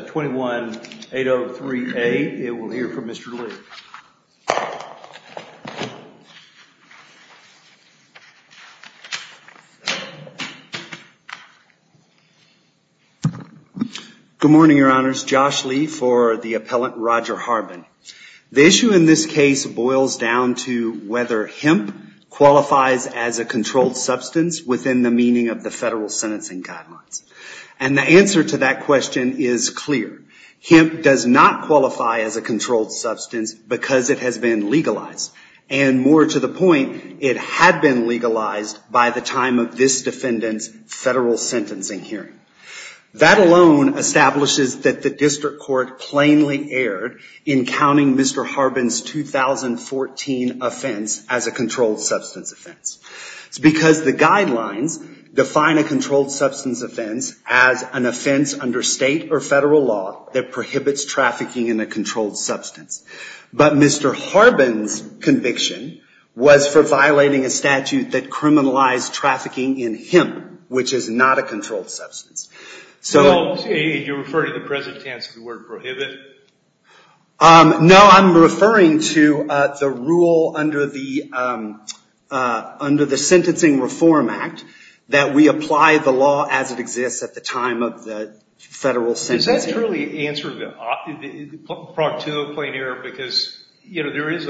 21-803-A. We'll hear from Mr. Lee. Good morning, your honors. Josh Lee for the appellant Roger Harbin. The issue in this case boils down to whether hemp qualifies as a controlled substance within the meaning of the federal sentencing guidelines. And the answer to that question is clear. Hemp does not qualify as a controlled substance because it has been legalized. And more to the point, it had been legalized by the time of this defendant's federal sentencing hearing. That alone establishes that the district court plainly erred in counting Mr. Harbin's 2014 offense as a controlled substance offense. It's because the guidelines define a controlled substance offense as an offense under state or federal law that prohibits trafficking in a controlled substance. But Mr. Harbin's conviction was for violating a statute that criminalized trafficking in hemp, which is not a controlled substance. So, you're referring to the present tense of the word prohibit? No, I'm referring to the rule under the Sentencing Reform Act that we apply the law as it exists at the time of the federal sentencing. Does that truly answer the point of plain error? Because there is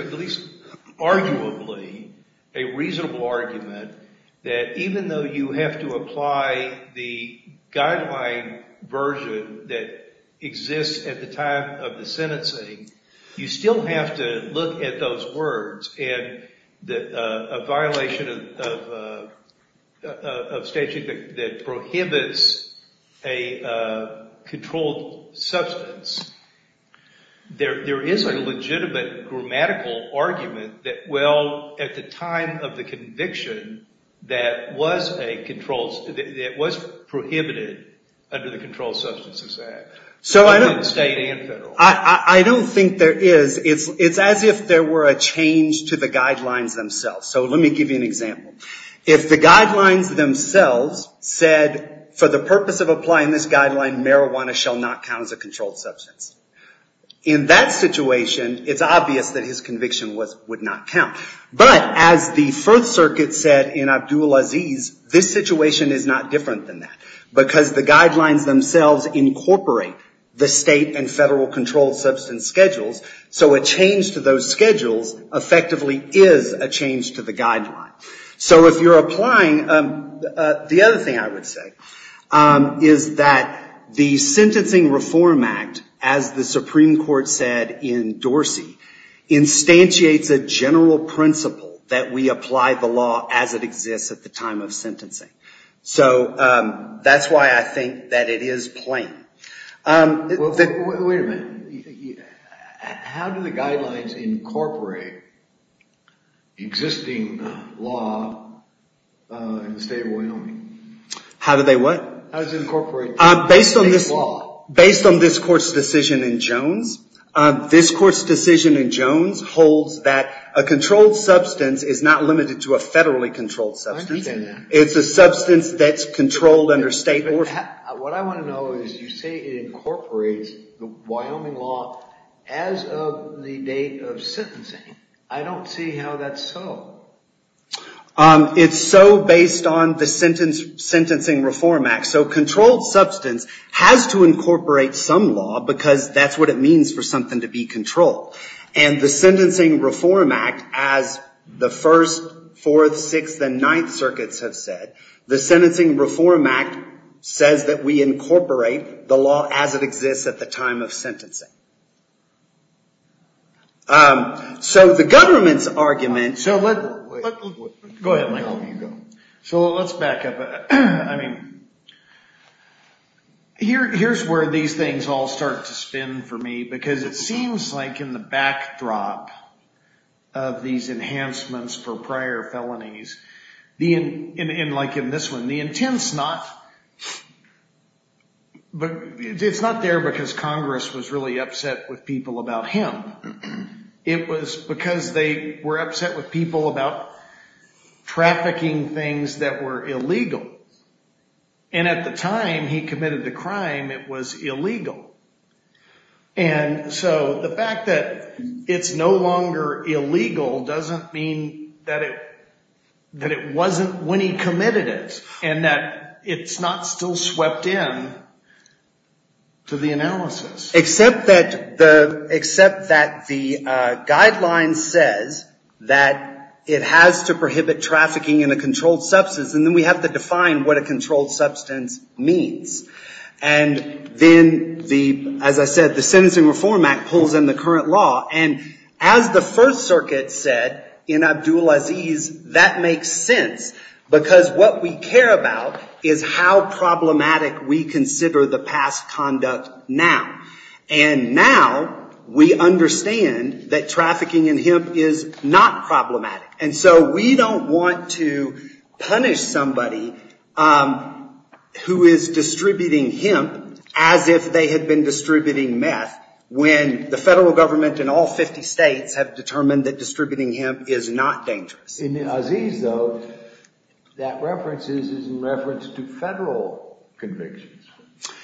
arguably a reasonable argument that even though you have to apply the guideline version that exists at the time of the sentencing, you still have to look at those words and a violation of statute that prohibits a controlled substance. There is a legitimate grammatical argument that, well, at the time of the conviction, that was prohibited under the Controlled Substances Act, both state and federal. I don't think there is. It's as if there were a change to the guidelines themselves. So, let me give you an example. If the guidelines themselves said, for the purpose of applying this guideline, marijuana shall not count as a controlled substance. In that situation, it's obvious that his conviction would not count. But, as the First Circuit said in Abdul Aziz, this situation is not different than that because the guidelines themselves incorporate the state and federal controlled substance schedules. So, a change to those schedules effectively is a change to the guideline. So, if you're applying, the other thing I would say is that the Sentencing Reform Act, as the Supreme Court said in Dorsey, instantiates a general principle that we apply the law as it exists at the time of sentencing. So, that's why I think that it is plain. Wait a minute. How do the guidelines incorporate existing law in the state of Wyoming? How do they what? How do they incorporate state law? Based on this Court's decision in Jones, this Court's decision in Jones holds that a controlled substance is not limited to a federally controlled substance. I didn't say that. It's a substance that's controlled under state order. What I want to know is, you say it incorporates the Wyoming law as of the date of sentencing. I don't see how that's so. It's so based on the Sentencing Reform Act. So, controlled substance has to incorporate some law because that's what it means for something to be controlled. And the Sentencing Reform Act, as the First, Fourth, Sixth, and Ninth states that we incorporate the law as it exists at the time of sentencing. So, the government's argument... Go ahead, Michael. So, let's back up. Here's where these things all start to spin for me because it seems like in the backdrop of these enhancements for prior felonies, like in this one, the intent's not... But it's not there because Congress was really upset with people about him. It was because they were upset with people about trafficking things that were illegal, and at the time he committed the crime, it was illegal. And so, the fact that it's no longer illegal doesn't mean that it wasn't when he committed it, and that it's not still swept in to the analysis. Except that the guideline says that it has to prohibit trafficking in a controlled substance, and then we have to define what a controlled substance means. And then, as I said, the Sentencing Reform Act pulls in the current law, and as the First Circuit said in Abdul Aziz, that makes sense because what we care about is how problematic we consider the past conduct now. And now, we understand that trafficking in hemp is not problematic. And so, we don't want to punish somebody who is distributing hemp as if they were a criminal. Federal government in all 50 states have determined that distributing hemp is not In Aziz, though, that reference is in reference to federal convictions,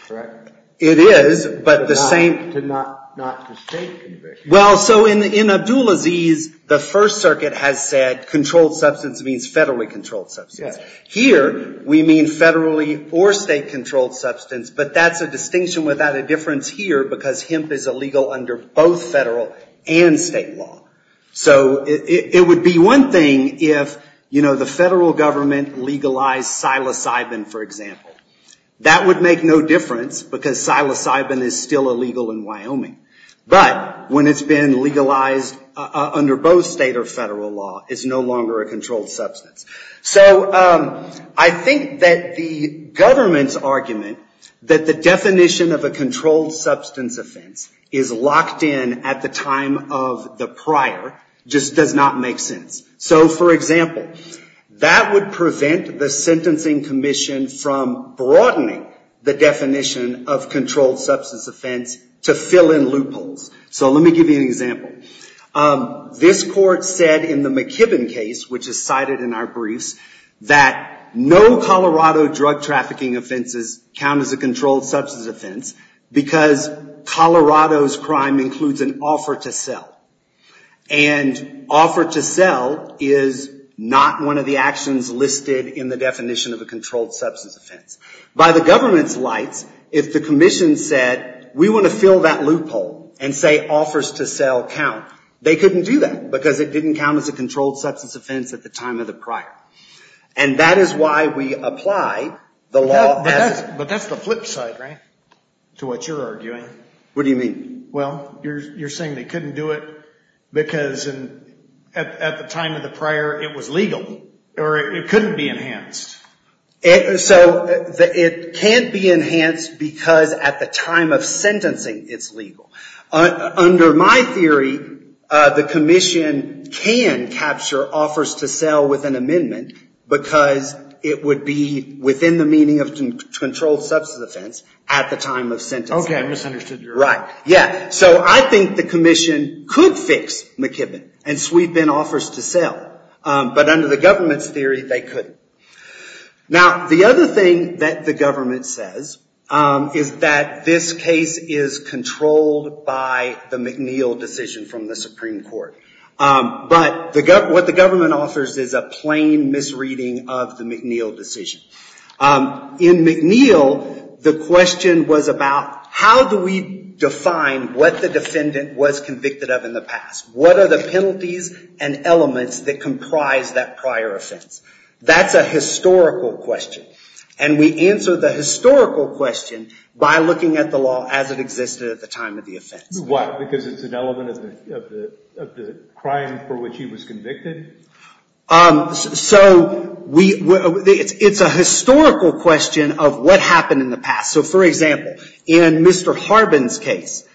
correct? It is, but the same... But not to state convictions. Well, so in Abdul Aziz, the First Circuit has said controlled substance means federally controlled substance. Here, we mean federally or state controlled substance, but that's a distinction without a difference here because hemp is illegal under both federal and state law. So, it would be one thing if, you know, the federal government legalized psilocybin, for example. That would make no difference because psilocybin is still illegal in Wyoming, but when it's been legalized under both state or federal law, it's no longer a controlled substance. So, I think that the government's argument that the definition of a controlled substance offense is locked in at the time of the prior just does not make sense. So for example, that would prevent the Sentencing Commission from broadening the definition of controlled substance offense to fill in loopholes. So let me give you an example. This court said in the McKibbin case, which is cited in our briefs, that no Colorado drug trafficking offenses count as a controlled substance offense because Colorado's crime includes an offer to sell. And offer to sell is not one of the actions listed in the definition of a controlled substance offense. By the government's lights, if the commission said, we want to fill that out, they couldn't do that because it didn't count as a controlled substance offense at the time of the prior. And that is why we apply the law as- But that's the flip side, right? To what you're arguing. What do you mean? Well, you're saying they couldn't do it because at the time of the prior, it was legal, or it couldn't be enhanced. So, it can't be enhanced because at the time of sentencing, it's legal. Under my theory, the commission can capture offers to sell with an amendment because it would be within the meaning of controlled substance offense at the time of sentencing. Okay, I misunderstood your- Right. Yeah, so I think the commission could fix McKibbin and sweep in offers to sell, but under the government's theory, they couldn't. Now, the other thing that the government says is that this case is controlled by the McNeil decision from the Supreme Court, but what the government offers is a plain misreading of the McNeil decision. In McNeil, the question was about how do we define what the defendant was convicted of in the past? What are the penalties and elements that comprise that prior offense? That's a historical question, and we answer the historical question by looking at the law as it existed at the time of the offense. Why? Because it's an element of the crime for which he was convicted? So, it's a historical question of what happened in the past. So, for example, in Mr. Harbin's case,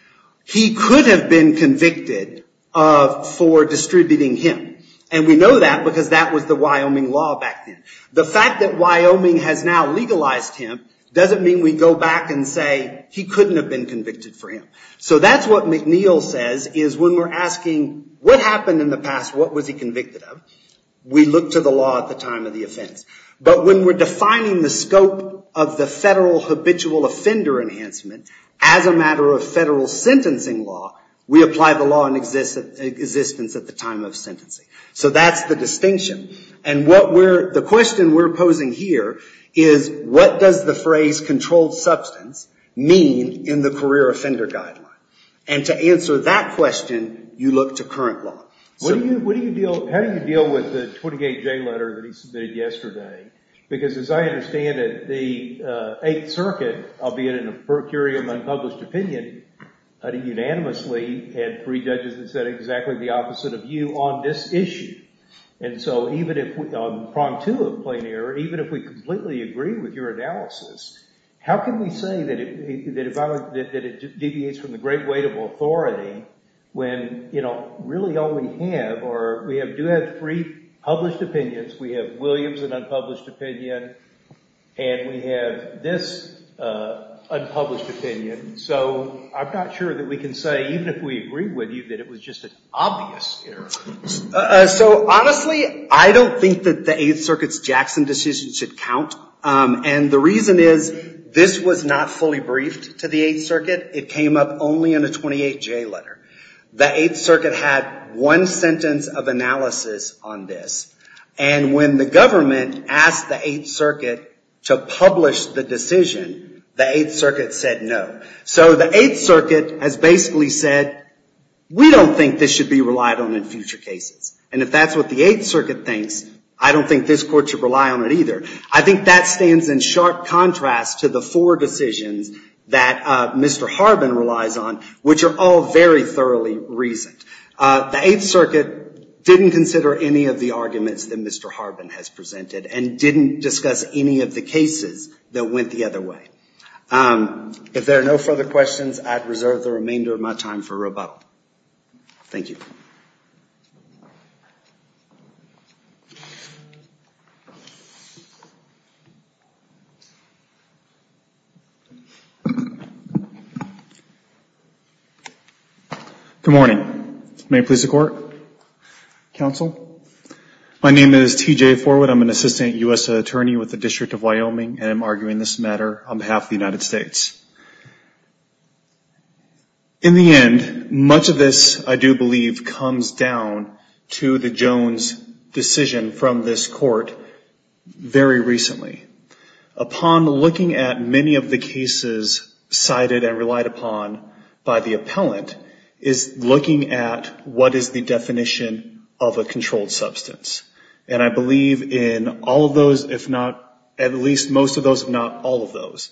he could have been convicted for distributing hemp, and we know that because that was the Wyoming law back then. The fact that Wyoming has now legalized hemp doesn't mean we go back and say he couldn't have been convicted for hemp. So, that's what McNeil says, is when we're asking what happened in the past, what was he convicted of, we look to the law at the time of the offense. But when we're defining the scope of the federal habitual offender enhancement as a matter of federal sentencing law, we apply the law in existence at the time of sentencing. So, that's the distinction. And the question we're posing here is, what does the phrase controlled substance mean in the career offender guideline? And to answer that question, you look to current law. So, how do you deal with the 28-J letter that he submitted yesterday? Because as I understand it, the Eighth Circuit, albeit in a per curiam unpublished opinion, unanimously had three judges that said exactly the opposite of you on this issue. And so, even if we, on prong two of plain error, even if we completely agree with your analysis, how can we say that if I would, that it deviates from the great weight of authority when, you know, really all we have are, we do have three published opinions. We have Williams, an unpublished opinion, and we have this unpublished opinion. So, I'm not sure that we can say, even if we agree with you, that it was just an obvious error. So, honestly, I don't think that the Eighth Circuit's Jackson decision should count. And the reason is, this was not fully briefed to the Eighth Circuit. It came up only in a 28-J letter. The Eighth Circuit had one sentence of analysis on this. And when the government asked the Eighth Circuit to publish the decision, the Eighth Circuit said no. So, the Eighth Circuit has basically said, we don't think this should be relied on in future cases. And if that's what the Eighth Circuit thinks, I don't think this court should rely on it either. I think that stands in sharp contrast to the four decisions that Mr. Harbin relies on, which are all very thoroughly reasoned. The Eighth Circuit didn't consider any of the arguments that Mr. Harbin has presented, and didn't discuss any of the cases that went the other way. If there are no further questions, I'd reserve the remainder of my time for rebuttal. Thank you. Good morning. May it please the court, counsel. My name is TJ Forward. I'm an assistant US attorney with the District of Wyoming, and I'm arguing this matter. I'm half the United States. In the end, much of this, I do believe, comes down to the Jones decision from this court very recently. Upon looking at many of the cases cited and relied upon by the appellant, is looking at what is the definition of a controlled substance. And I believe in all of those, if not, at least most of those, if not all of those,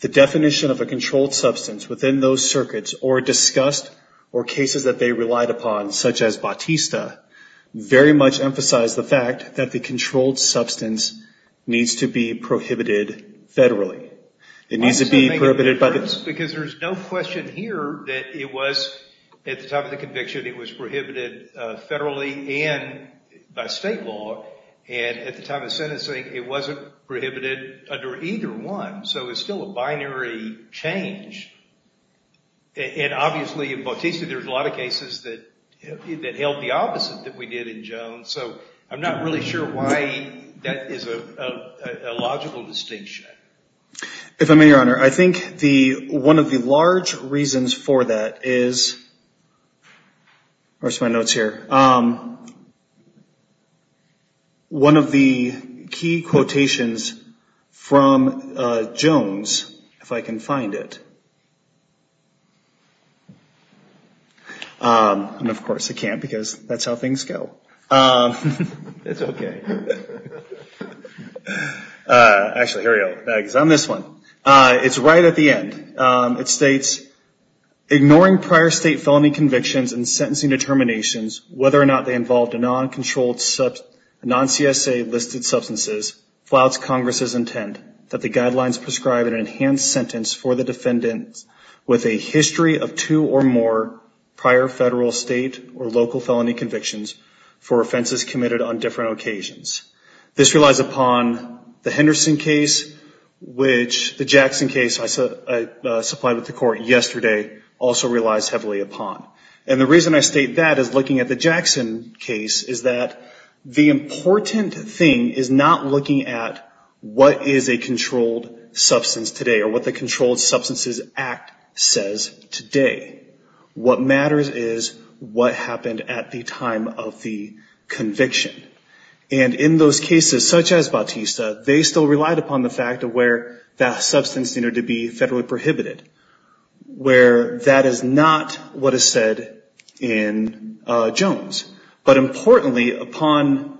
the definition of a controlled substance within those circuits, or discussed, or cases that they relied upon, such as Bautista, very much emphasized the fact that the controlled substance needs to be prohibited federally. It needs to be prohibited by the- Because there's no question here that it was, at the time of the conviction, it was prohibited federally and by state law. And at the time of sentencing, it wasn't prohibited under either one. So it's still a binary change. And obviously, in Bautista, there's a lot of cases that held the opposite that we did in Jones. So I'm not really sure why that is a logical distinction. If I may, Your Honor, I think one of the large reasons for that is where's my notes here? One of the key quotations from Jones, if I can find it. And of course, I can't because that's how things go. It's okay. Actually, here we go, on this one. It's right at the end. It states, ignoring prior state felony convictions and sentencing determinations, whether or not they involved a non-controlled, non-CSA listed substances, flouts Congress's intent that the guidelines prescribe an enhanced sentence for the defendants with a history of two or more prior federal, state, or local felony convictions for offenses committed on different occasions. This relies upon the Henderson case, which the Jackson case, I supplied with the court yesterday, also relies heavily upon. And the reason I state that is looking at the Jackson case is that the important thing is not looking at what is a controlled substance today or what the Controlled Substances Act says today. What matters is what happened at the time of the conviction. And in those cases, such as Bautista, they still relied upon the fact of where that substance needed to be federally prohibited, where that is not what is said in Jones. But importantly, upon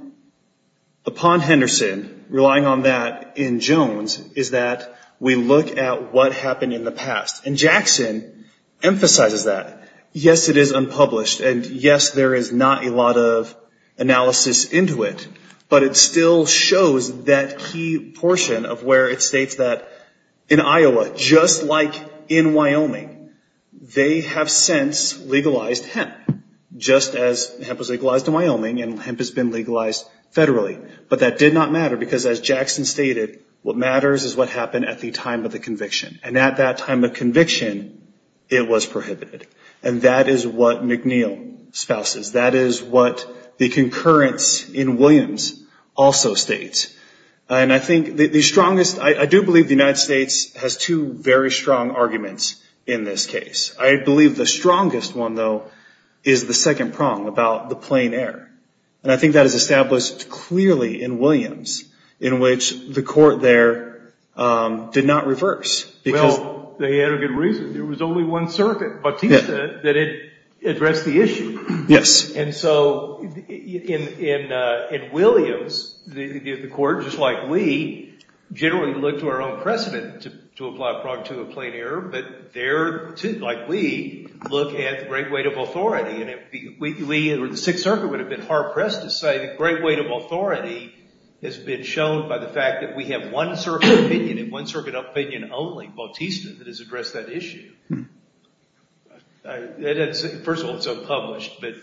Henderson, relying on that in Jones, is that we look at what happened in the past. And Jackson emphasizes that. Yes, it is unpublished, and yes, there is not a lot of analysis into it, but it still shows that key portion of where it states that in Iowa, just like in Wyoming, they have since legalized hemp, just as hemp was legalized in Wyoming and hemp has been legalized federally. But that did not matter, because as Jackson stated, what matters is what happened at the time of the conviction. And at that time of conviction, it was prohibited. And that is what McNeil spouses. That is what the concurrence in Williams also states. And I do believe the United States has two very strong arguments in this case. I believe the strongest one, though, is the second prong about the plain air. And I think that is established clearly in Williams, in which the court there did not reverse. Well, they had a good reason. There was only one circuit, Bautista, that addressed the issue. And so in Williams, the court, just like we, generally look to our own precedent to apply a prong to a plain air, but there, too, like we, look at the great weight of authority. And if we, or the Sixth Circuit would have been hard-pressed to say, the great weight of authority has been shown by the fact that we have one circuit opinion, and one circuit opinion only, Bautista, that has addressed that issue. First of all, it's unpublished, but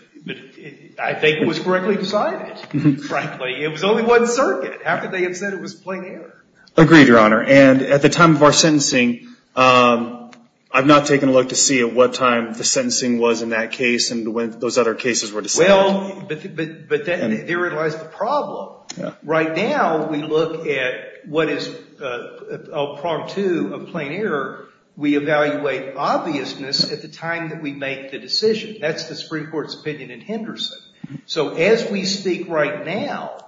I think it was correctly decided, frankly. It was only one circuit. How could they have said it was plain air? Agreed, Your Honor. And at the time of our sentencing, I've not taken a look to see at what time the sentencing was in that case and when those other cases were decided. Well, but then therein lies the problem. Right now, we look at what is a prong to a plain air. We evaluate obviousness at the time that we make the decision. That's the Supreme Court's opinion in Henderson. So as we speak right now,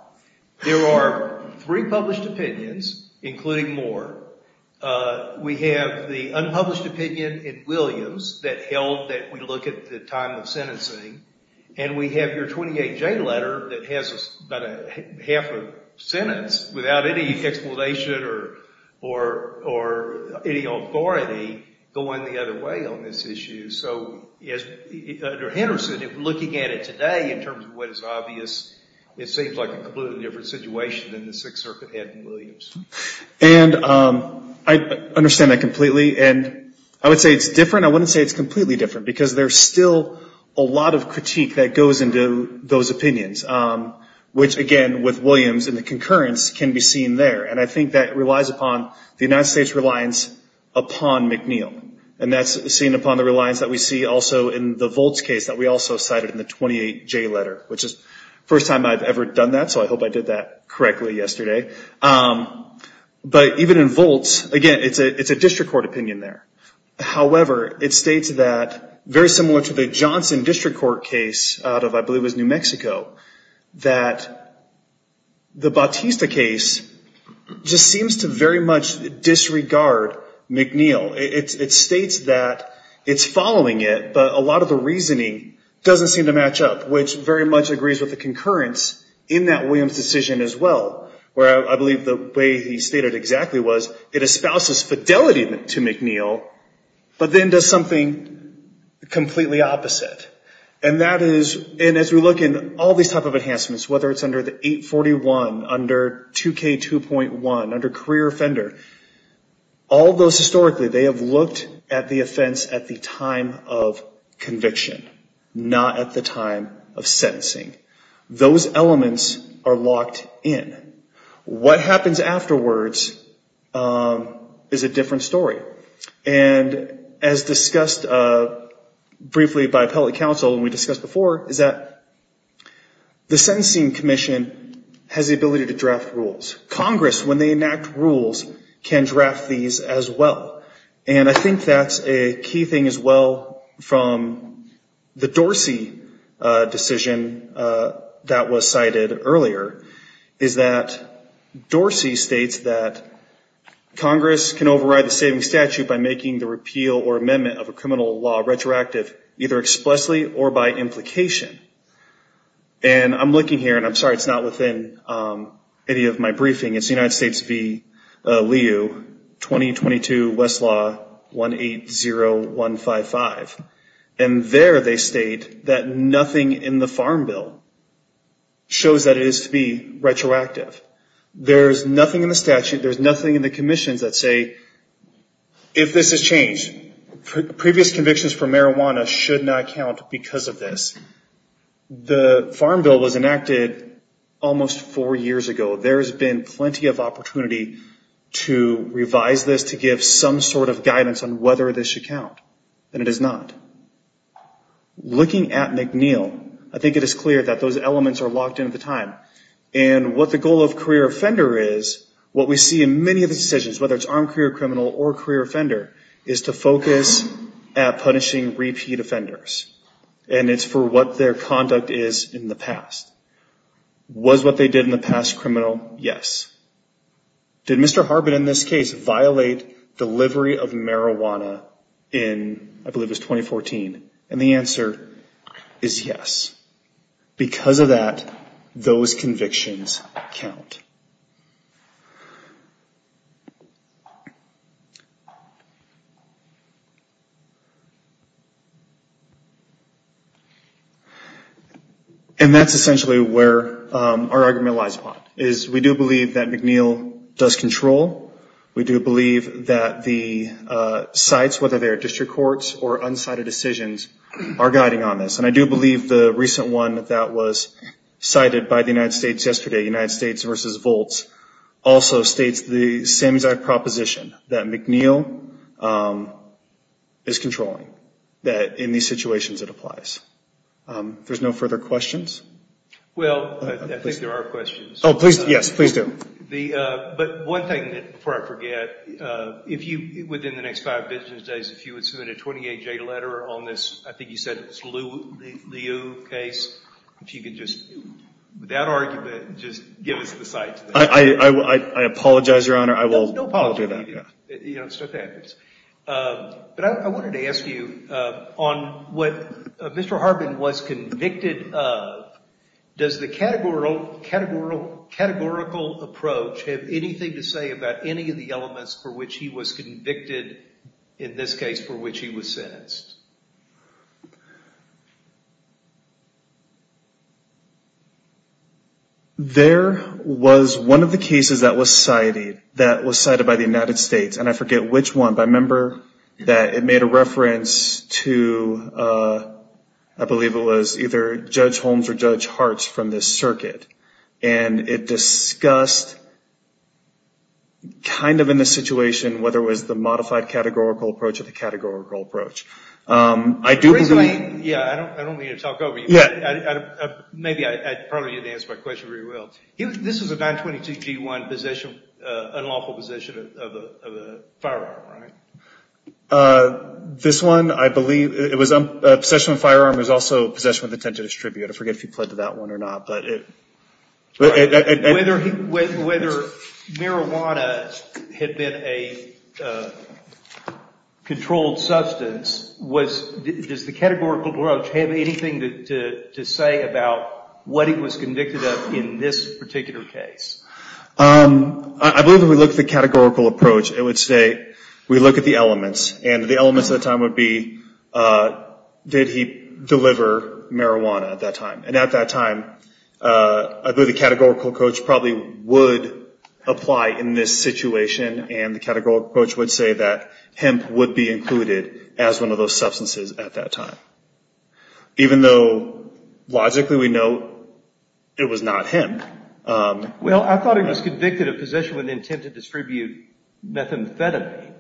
there are three published opinions, including more. We have the unpublished opinion in Williams that held that we look at the time of sentencing, and we have your 28J letter that has about half a sentence without any explanation or any authority going the other way on this issue. So under Henderson, looking at it today in terms of what is obvious, it seems like a completely different situation than the Sixth Circuit had in Williams. And I understand that completely, and I would say it's different. I wouldn't say it's completely different because there's still a lot of critique that goes into those opinions, which again, with Williams and the concurrence can be seen there. And I think that relies upon the United States' reliance upon McNeil. And that's seen upon the reliance that we see also in the Volts case that we also cited in the 28J letter, which is the first time I've ever done that, so I hope I did that correctly yesterday. But even in Volts, again, it's a district court opinion there. However, it states that, very similar to the Johnson District Court case out of I believe it was New Mexico, that the Bautista case just seems to very much disregard McNeil. It states that it's following it, but a lot of the reasoning doesn't seem to match up, which very much agrees with the concurrence in that Williams decision as well, where I believe the way he stated exactly was, it espouses fidelity to McNeil, but then does something completely opposite. And that is, and as we look in all these type of enhancements, whether it's under the 841, under 2K2.1, under career offender, all those historically, they have looked at the offense at the time of conviction, not at the time of sentencing. Those elements are locked in. What happens afterwards is a different story. And as discussed briefly by appellate counsel, and we discussed before, is that the sentencing commission has the ability to draft rules. Congress, when they enact rules, can draft these as well. And I think that's a key thing as well from the Dorsey decision that was cited earlier, is that Dorsey states that Congress can override the saving statute by making the repeal or amendment of a criminal law retroactive either expressly or by implication. And I'm looking here, and I'm sorry it's not within any of my briefing. It's United States v. Leo, 2022 Westlaw 180155. And there they state that nothing in the farm bill shows that it is to be retroactive. There's nothing in the statute, there's nothing in the commissions that say, if this is changed, previous convictions for marijuana should not count because of this. The farm bill was enacted almost four years ago. There's been plenty of opportunity to revise this to give some sort of guidance on whether this should count, and it is not. Looking at McNeil, I think it is clear that those elements are locked into the time. And what the goal of career offender is, what we see in many of the decisions, whether it's armed career criminal or career offender, is to focus at punishing repeat offenders. And it's for what their conduct is in the past. Was what they did in the past criminal? Yes. Did Mr. Harbin, in this case, violate delivery of marijuana in, I believe it was 2014? And the answer is yes. Because of that, those convictions count. And that's essentially where our argument lies upon. Is we do believe that McNeil does control. We do believe that the sites, whether they're district courts or unsighted decisions, are guiding on this. And I do believe the recent one that was cited by the United States yesterday, the United States versus Volts, also states the same exact proposition. That McNeil is controlling. That in these situations, it applies. There's no further questions? Well, I think there are questions. Oh, please, yes, please do. But one thing, before I forget, if you, within the next five business days, if you would submit a 28-J letter on this, I think you said it's Liu case, if you could just, with that argument, just give us the site. I apologize, Your Honor. I will do that. No apology. But I wanted to ask you, on what Mr. Harbin was convicted of, does the categorical approach have anything to say about any of the elements for which he was convicted, in this case, for which he was sentenced? There was one of the cases that was cited, that was cited by the United States, and I forget which one, but I remember that it made a reference to, I believe it was either Judge Holmes or Judge Hartz from this circuit. And it discussed, kind of in this situation, whether it was the modified categorical approach or the categorical approach. I do believe... Originally, yeah, I don't need to talk over you. Maybe I probably didn't answer my question very well. This was a 922-G1 unlawful possession of a firearm, right? This one, I believe, it was a possession of a firearm, it was also a possession with intent to distribute. I forget if he pled to that one or not, but... Whether marijuana had been a controlled substance, does the categorical approach have anything to say about what he was convicted of in this particular case? I believe if we look at the categorical approach, it would say, we look at the elements, and the elements at the time would be, did he deliver marijuana at that time? And at that time, the categorical approach probably would apply in this situation, and the categorical approach would say that hemp would be included as one of those substances at that time. Even though, logically, we know it was not him. Well, I thought he was convicted of possession with intent to distribute methamphetamine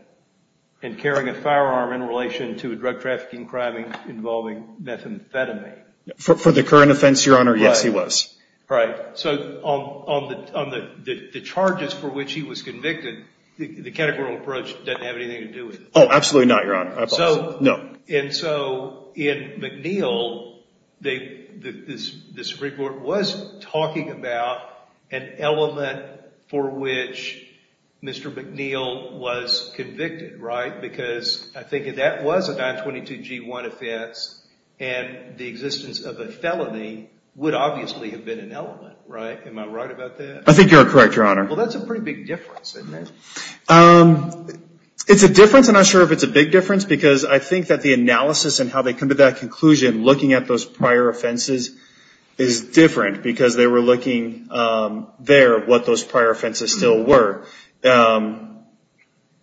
and carrying a firearm in relation to a drug trafficking crime involving methamphetamine. For the current offense, Your Honor, yes, he was. Right, so on the charges for which he was convicted, the categorical approach doesn't have anything to do with it. Oh, absolutely not, Your Honor, I apologize, no. And so, in McNeil, the Supreme Court was talking about an element for which Mr. McNeil was convicted, right? Because I think if that was a 922 G1 offense, and the existence of a felony would obviously have been an element, right? Am I right about that? I think you're correct, Your Honor. Well, that's a pretty big difference, isn't it? It's a difference, and I'm not sure if it's a big difference, because I think that the analysis and how they come to that conclusion, looking at those prior offenses, is different, because they were looking there at what those prior offenses still were.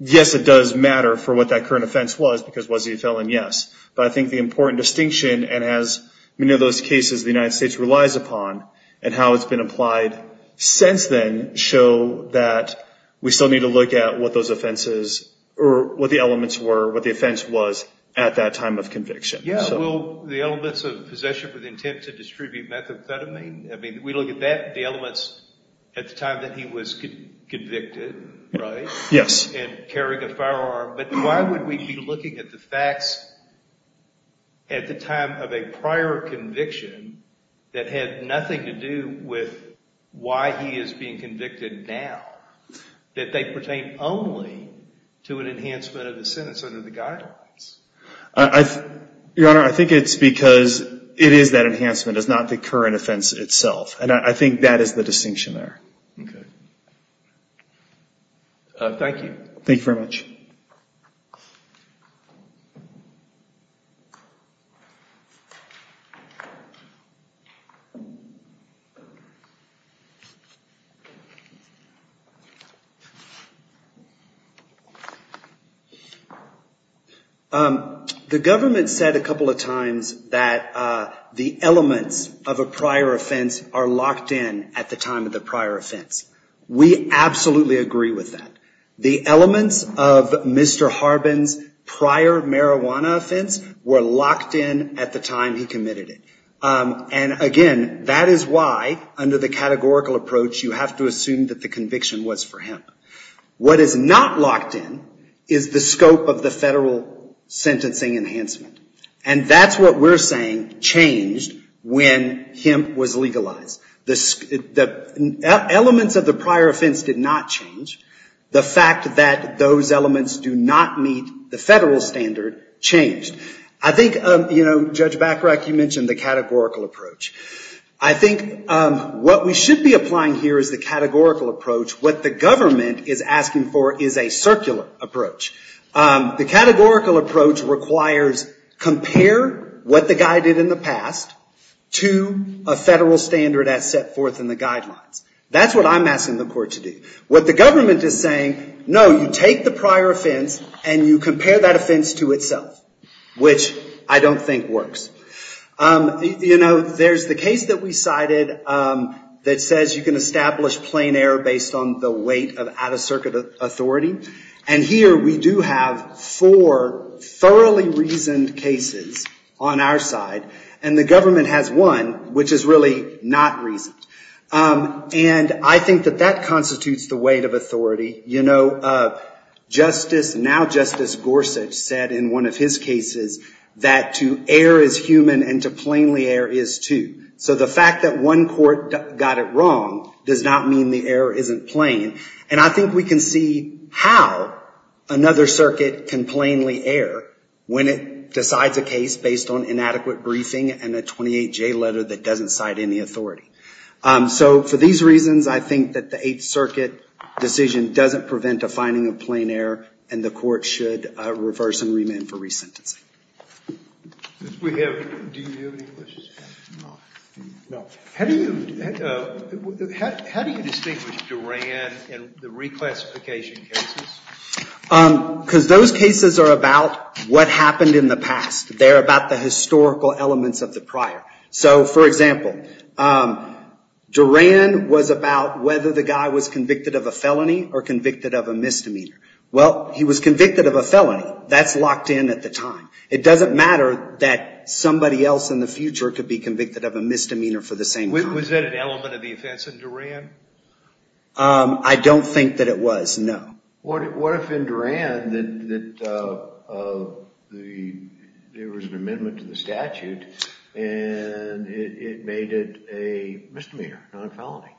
Yes, it does matter for what that current offense was, because was he a felon, yes. But I think the important distinction, and as many of those cases the United States relies upon, and how it's been applied since then, show that we still need to look at what those offenses, or what the elements were, what the offense was at that time of conviction. Yeah, well, the elements of possession with intent to distribute methamphetamine, I mean, we look at that, the elements at the time that he was convicted, right? Yes. And carrying a firearm. But why would we be looking at the facts at the time of a prior conviction that had nothing to do with why he is being convicted now, that they pertain only to an enhancement of the sentence under the guidelines? Your Honor, I think it's because it is that enhancement, it's not the current offense itself. And I think that is the distinction there. Okay. Thank you. Thank you very much. The government said a couple of times that the elements of a prior offense are locked in at the time of the prior offense. We absolutely agree with that. The elements of Mr. Harbin's prior marijuana offense were locked in at the time he committed it. And again, that is why, under the categorical approach, you have to assume that the conviction was for him. What is not locked in is the scope of the federal sentencing enhancement. And that's what we're saying changed when him was legalized. The elements of the prior offense did not change. The fact that those elements do not meet the federal standard changed. I think, Judge Bachrach, you mentioned the categorical approach. I think what we should be applying here is the categorical approach. What the government is asking for is a circular approach. The categorical approach requires, compare what the guy did in the past to a federal standard as set forth in the guidelines. That's what I'm asking the court to do. What the government is saying, no, you take the prior offense and you compare that offense to itself, which I don't think works. There's the case that we cited that says you can establish plain error based on the weight of out-of-circuit authority. And here, we do have four thoroughly reasoned cases on our side. And the government has one which is really not reasoned. And I think that that constitutes the weight of authority. You know, Justice, now Justice Gorsuch said in one of his cases that to err is human and to plainly err is too. So the fact that one court got it wrong does not mean the error isn't plain. And I think we can see how another circuit can plainly err when it decides a case based on inadequate briefing and a 28-J letter that doesn't cite any authority. So for these reasons, I think that the Eighth Circuit decision doesn't prevent a finding of plain error, and the court should reverse and remand for resentencing. How do you distinguish Duran and the reclassification cases? Because those cases are about what happened in the past. They're about the historical elements of the prior. So for example, Duran was about whether the guy was convicted of a felony or convicted of a misdemeanor. Well, he was convicted of a felony. That's locked in at the time. It doesn't matter that somebody else in the future could be convicted of a misdemeanor for the same time. Was that an element of the offense in Duran? I don't think that it was, no. What if in Duran there was an amendment to the statute, and it made it a misdemeanor, not a felony?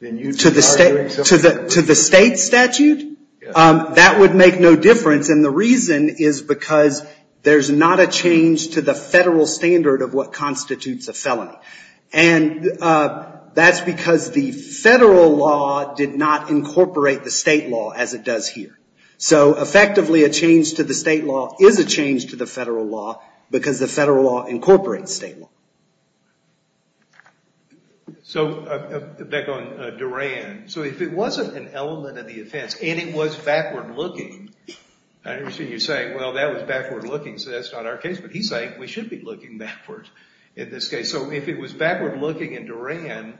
To the state statute? That would make no difference, and the reason is because there's not a change to the federal standard of what constitutes a felony. And that's because the federal law did not incorporate the state law as it does here. So effectively, a change to the state law is a change to the federal law, because the federal law incorporates state law. So back on Duran. So if it wasn't an element of the offense, and it was backward-looking, I understand you're saying, well, that was backward-looking, so that's not our case. But he's saying we should be looking backward in this case. So if it was backward-looking in Duran,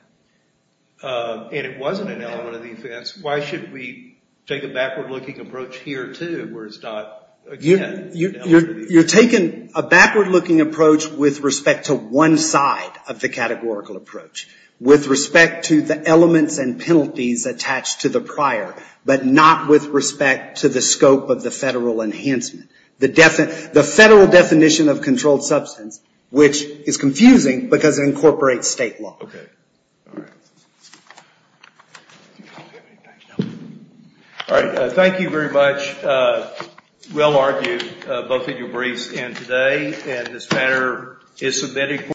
and it wasn't an element of the offense, why should we take a backward-looking approach here, too, where it's not, again, an element of the offense? You're taking a backward-looking approach with respect to one side of the categorical approach, with respect to the elements and penalties attached to the prior, but not with respect to the scope of the federal enhancement. The federal definition of controlled substance, which is confusing, because it incorporates state law. OK. Thank you very much. We'll argue both of your briefs in today. And this matter is submitted for.